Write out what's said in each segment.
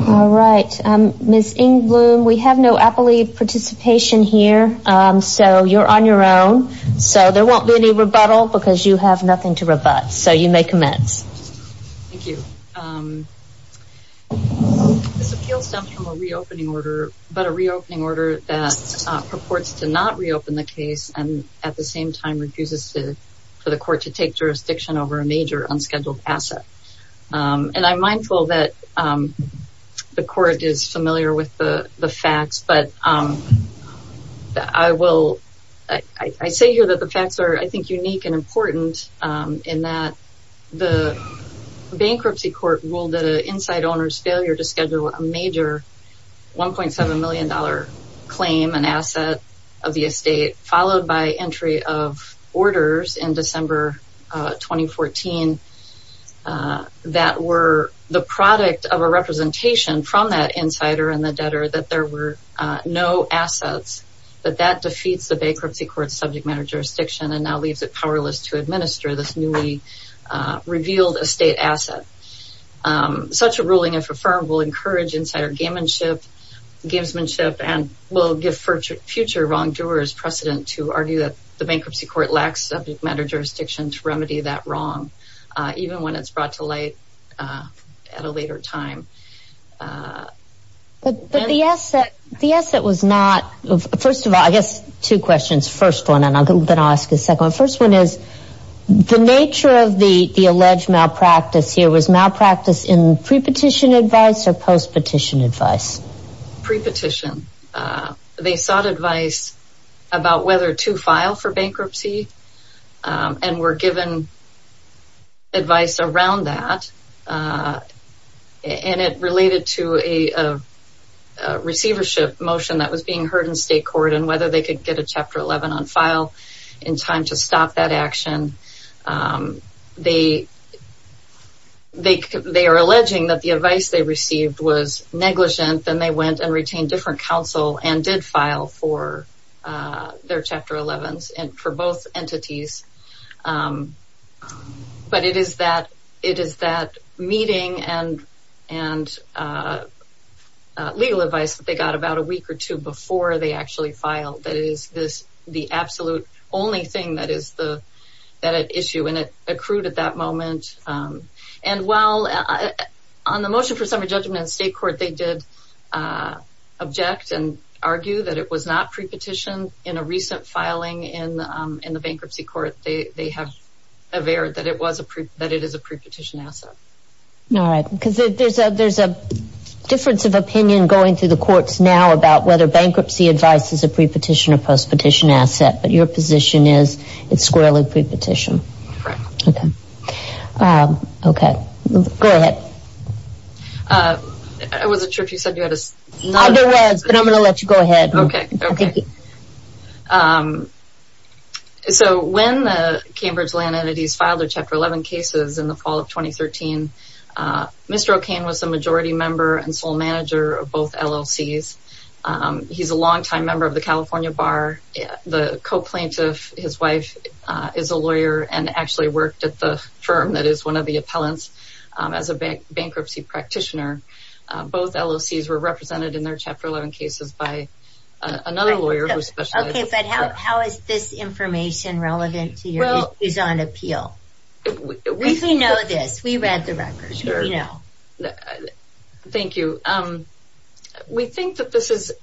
All right, Ms. Engbloom, we have no appellee participation here, so you're on your own. So there won't be any rebuttal because you have nothing to rebut. So you may commence. Thank you. This appeal stems from a reopening order, but a reopening order that purports to not reopen the case and at the same time refuses for the court to take jurisdiction over a major unscheduled asset. And I'm mindful that the court is familiar with the facts, but I say here that the facts are, I think, unique and important in that the bankruptcy court ruled that an inside owner's failure to schedule a major $1.7 million claim, an asset of the estate, followed by entry of orders in December 2014 that were the product of a representation from that insider and the debtor that there were no assets. But that defeats the bankruptcy court's subject matter jurisdiction and now leaves it powerless to administer this newly revealed estate asset. Such a ruling, if affirmed, will encourage insider gamesmanship and will give future wrongdoers precedent to argue that the bankruptcy court lacks subject matter jurisdiction to remedy that wrong, even when it's brought to light at a later time. But the asset was not, first of all, I guess two questions. First one, and then I'll ask the second one. First one is, the nature of the alleged malpractice here was malpractice in pre-petition advice or post-petition advice? Pre-petition. They sought advice about whether to file for bankruptcy and were given advice around that. And it related to a receivership motion that was being heard in state court and whether they could get a Chapter 11 on file in time to stop that action. They are alleging that the advice they received was negligent, then they went and retained different counsel and did file for their Chapter 11s for both entities. But it is that meeting and legal advice that they got about a week or two before they actually filed that is the absolute only thing that is at issue. And it accrued at that moment. And while on the motion for summary judgment in state court, they did object and argue that it was not pre-petition in a recent filing in the bankruptcy court, they have averred that it is a pre-petition asset. All right. Because there is a difference of opinion going through the courts now about whether bankruptcy advice is a pre-petition or post-petition asset, but your position is it is squarely pre-petition. Correct. Okay. Go ahead. I wasn't sure if you said you had a... I know it was, but I'm going to let you go ahead. Okay. Okay. So when the Cambridge Land Entities filed their Chapter 11 cases in the fall of 2013, Mr. O'Kane was the majority member and sole manager of both LLCs. He's a longtime member of the California Bar. The co-plaintiff, his wife, is a lawyer and actually worked at the firm that is one of the appellants as a bankruptcy practitioner. Both LLCs were represented in their Chapter 11 cases by another lawyer who specializes... Okay, but how is this information relevant to your views on appeal? We know this. We read the records. Sure. We know. Thank you. We think that this is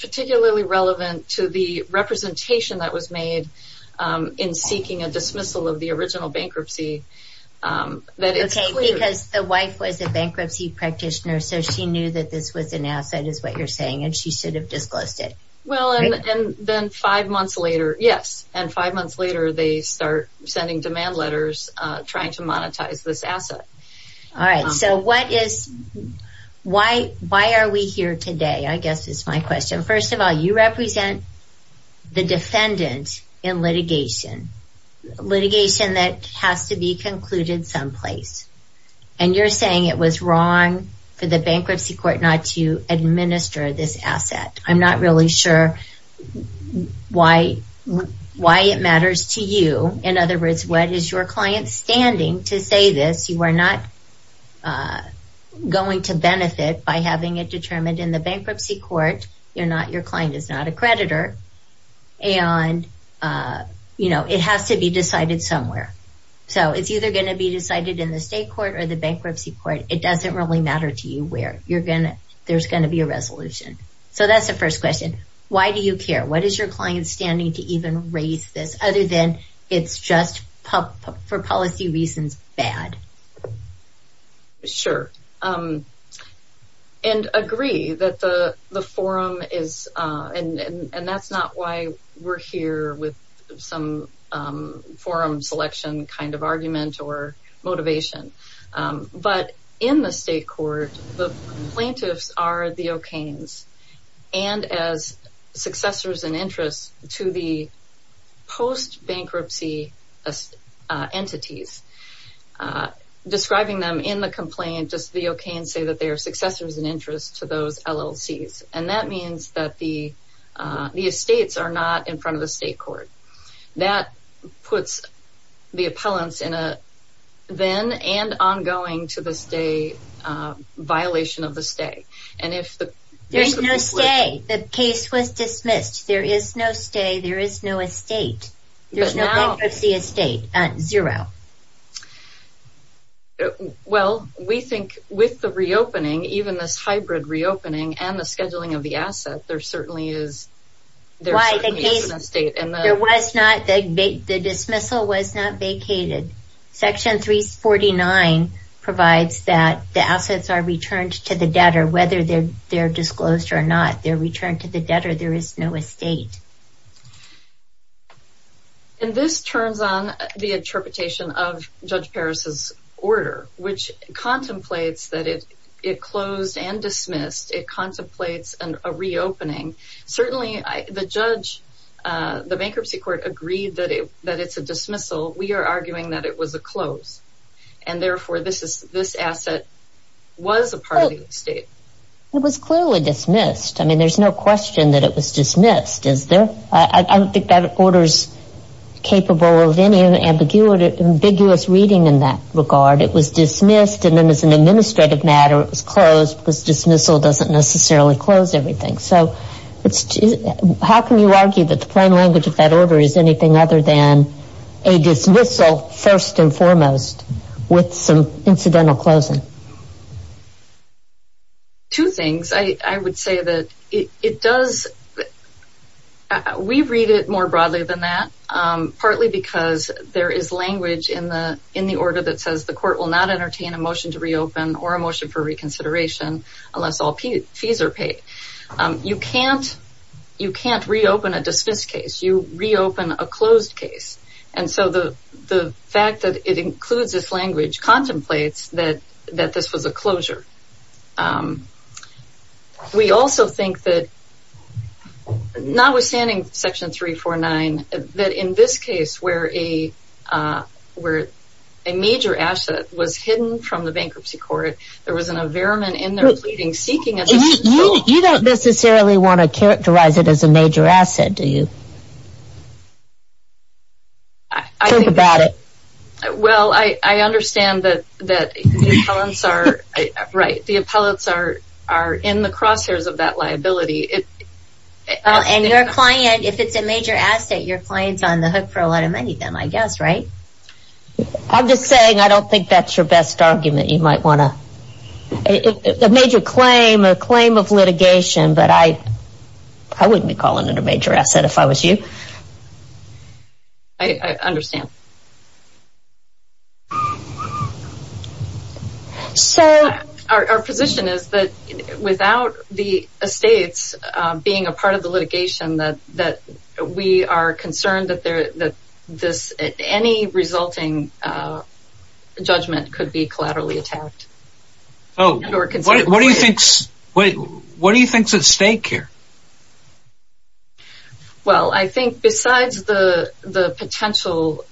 particularly relevant to the representation that was made in seeking a dismissal of the original bankruptcy. Okay, because the wife was a bankruptcy practitioner, so she knew that this was an asset, is what you're saying, and she should have disclosed it. Well, and then five months later, yes, and five months later, they start sending demand letters trying to monetize this asset. All right. So why are we here today, I guess is my question. First of all, you represent the defendant in litigation, litigation that has to be concluded someplace, and you're saying it was wrong for the bankruptcy court not to administer this asset. I'm not really sure why it matters to you. In other words, what is your client's standing to say this? You are not going to benefit by having it determined in the bankruptcy court. Your client is not a creditor, and it has to be decided somewhere. So it's either going to be decided in the state court or the bankruptcy court. It doesn't really matter to you where. There's going to be a resolution. So that's the first question. Why do you care? What is your client's standing to even raise this other than it's just for policy reasons bad? Sure. And agree that the forum is, and that's not why we're here with some forum selection kind of argument or motivation. But in the state court, the plaintiffs are the Okanes, and as successors and interests to the post-bankruptcy entities. Describing them in the complaint, just the Okanes say that they are successors and interests to those LLCs. And that means that the estates are not in front of the state court. That puts the appellants in a then and ongoing to this day violation of the stay. There's no stay. The case was dismissed. There is no stay. There is no estate. There's no bankruptcy estate. Zero. Well, we think with the reopening, even this hybrid reopening and the scheduling of the asset, there certainly is an estate. The dismissal was not vacated. Section 349 provides that the assets are returned to the debtor, whether they're disclosed or not. They're returned to the debtor. There is no estate. And this turns on the interpretation of Judge Paris' order, which contemplates that it closed and dismissed. It contemplates a reopening. Certainly, the judge, the bankruptcy court, agreed that it's a dismissal. We are arguing that it was a close. And therefore, this asset was a part of the estate. It was clearly dismissed. I mean, there's no question that it was dismissed. I don't think that order is capable of any ambiguous reading in that regard. It was dismissed. And then as an administrative matter, it was closed because dismissal doesn't necessarily close everything. So how can you argue that the plain language of that order is anything other than a dismissal, first and foremost, with some incidental closing? Two things. I would say that we read it more broadly than that, partly because there is language in the order that says the court will not entertain a motion to reopen or a motion for reconsideration unless all fees are paid. You can't reopen a dismissed case. You reopen a closed case. And so the fact that it includes this language contemplates that this was a closure. We also think that, notwithstanding Section 349, that in this case, where a major asset was hidden from the bankruptcy court, there was an environment in there pleading, seeking a disposal. You don't necessarily want to characterize it as a major asset, do you? Think about it. Well, I understand that the appellants are in the crosshairs of that liability. And your client, if it's a major asset, your client's on the hook for a lot of money then, I guess, right? I'm just saying I don't think that's your best argument. A major claim or a claim of litigation, but I wouldn't be calling it a major asset if I was you. I understand. So our position is that without the estates being a part of the litigation, that we are concerned that any resulting judgment could be collaterally attacked. Oh, what do you think's at stake here? Well, I think besides the potential,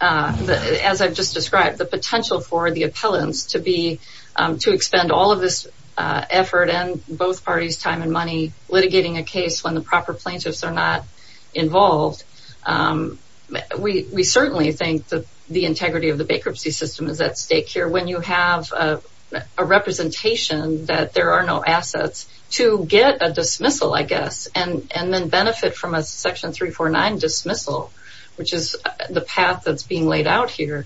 as I've just described, the potential for the appellants to expend all of this effort and both parties' time and money litigating a case when the proper plaintiffs are not involved, we certainly think that the integrity of the bankruptcy system is at stake here. When you have a representation that there are no assets to get a dismissal, I guess, and then benefit from a section 349 dismissal, which is the path that's being laid out here,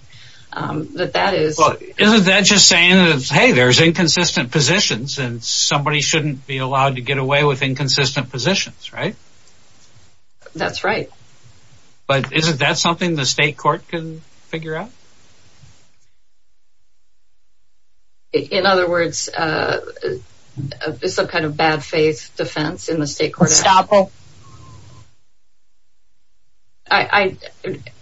that that is... Well, isn't that just saying that, hey, there's inconsistent positions and somebody shouldn't be allowed to get away with inconsistent positions, right? That's right. But isn't that something the state court can figure out? In other words, some kind of bad faith defense in the state court? A stopper.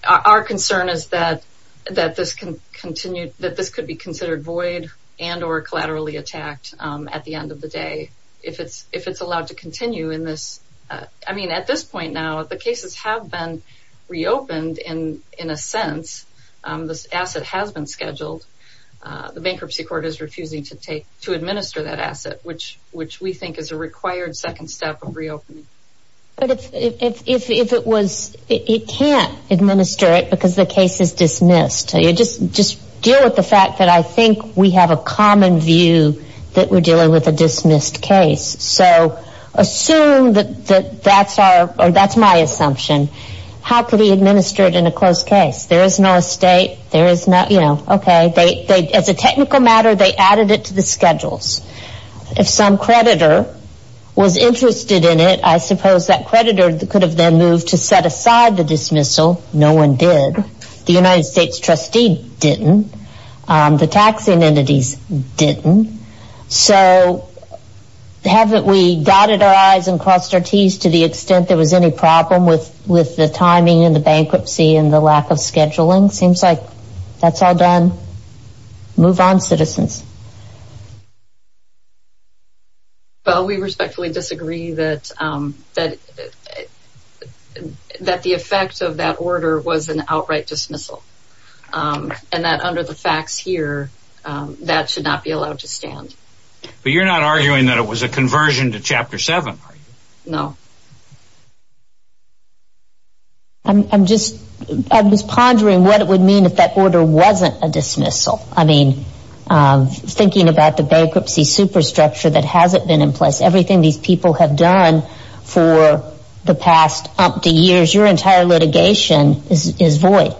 Our concern is that this could be considered void and or collaterally attacked at the end of the day if it's allowed to continue in this... I mean, at this point now, the cases have been reopened in a sense. This asset has been scheduled. The bankruptcy court is refusing to administer that asset, which we think is a required second step of reopening. But if it was... It can't administer it because the case is dismissed. Just deal with the fact that I think we have a common view that we're dealing with a dismissed case. So assume that that's my assumption. How could he administer it in a closed case? There is no estate. Okay. As a technical matter, they added it to the schedules. If some creditor was interested in it, I suppose that creditor could have then moved to set aside the dismissal. No one did. The United States trustee didn't. The taxing entities didn't. So haven't we dotted our I's and crossed our T's to the extent there was any problem with the timing and the bankruptcy and the lack of scheduling? Seems like that's all done. Move on, citizens. Well, we respectfully disagree that the effect of that order was an outright dismissal and that under the facts here, that should not be allowed to stand. But you're not arguing that it was a conversion to Chapter 7, are you? No. I'm just pondering what it would mean if that order wasn't a dismissal. I mean, thinking about the bankruptcy superstructure that hasn't been in place, everything these people have done for the past umpty years, your entire litigation is void.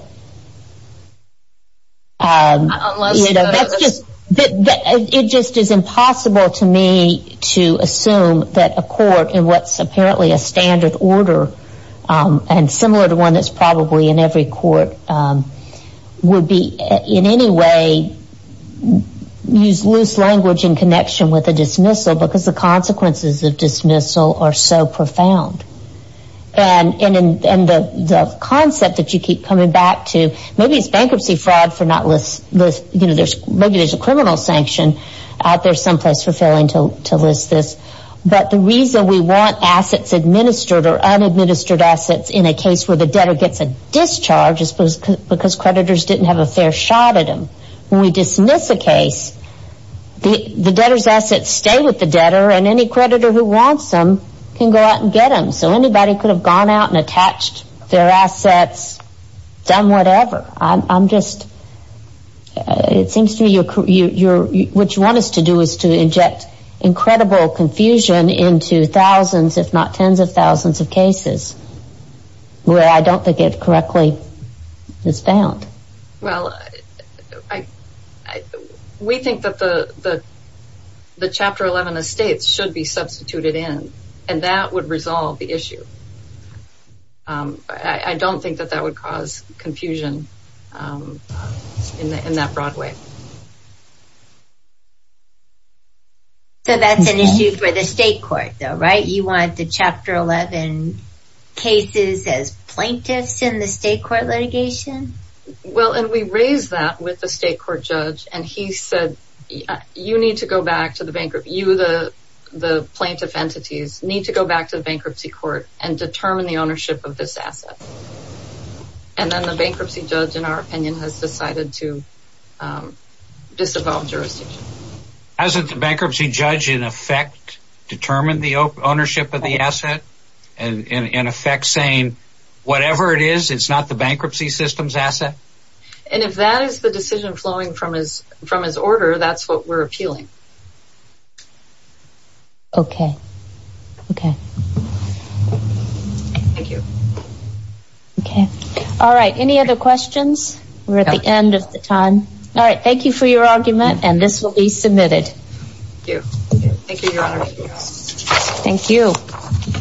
It just is impossible to me to assume that a court in what's apparently a standard order and similar to one that's probably in every court would be in any way use loose language in connection with a dismissal because the consequences of dismissal are so profound. And the concept that you keep coming back to, maybe it's bankruptcy fraud, maybe there's a criminal sanction out there someplace fulfilling to list this, but the reason we want assets administered or unadministered assets in a case where the debtor gets a discharge is because creditors didn't have a fair shot at them. When we dismiss a case, the debtor's assets stay with the debtor and any creditor who wants them can go out and get them. So anybody could have gone out and attached their assets, done whatever. I'm just, it seems to me what you want us to do is to inject incredible confusion into thousands, if not tens of thousands of cases where I don't think it correctly is found. Well, we think that the Chapter 11 estates should be substituted in and that would resolve the issue. I don't think that that would cause confusion in that broad way. So that's an issue for the state court though, right? You want the Chapter 11 cases as plaintiffs in the state court litigation? Well, and we raised that with the state court judge and he said, you need to go back to the bankruptcy, you, the plaintiff entities, need to go back to the bankruptcy court and determine the ownership of this asset. And then the bankruptcy judge, in our opinion, has decided to disavow jurisdiction. Hasn't the bankruptcy judge in effect determined the ownership of the asset? In effect saying whatever it is, it's not the bankruptcy system's asset? And if that is the decision flowing from his order, that's what we're appealing. Okay. Okay. Thank you. Okay. All right. Any other questions? We're at the end of the time. All right. Thank you for your argument and this will be submitted. Thank you. Thank you, Your Honor. Thank you.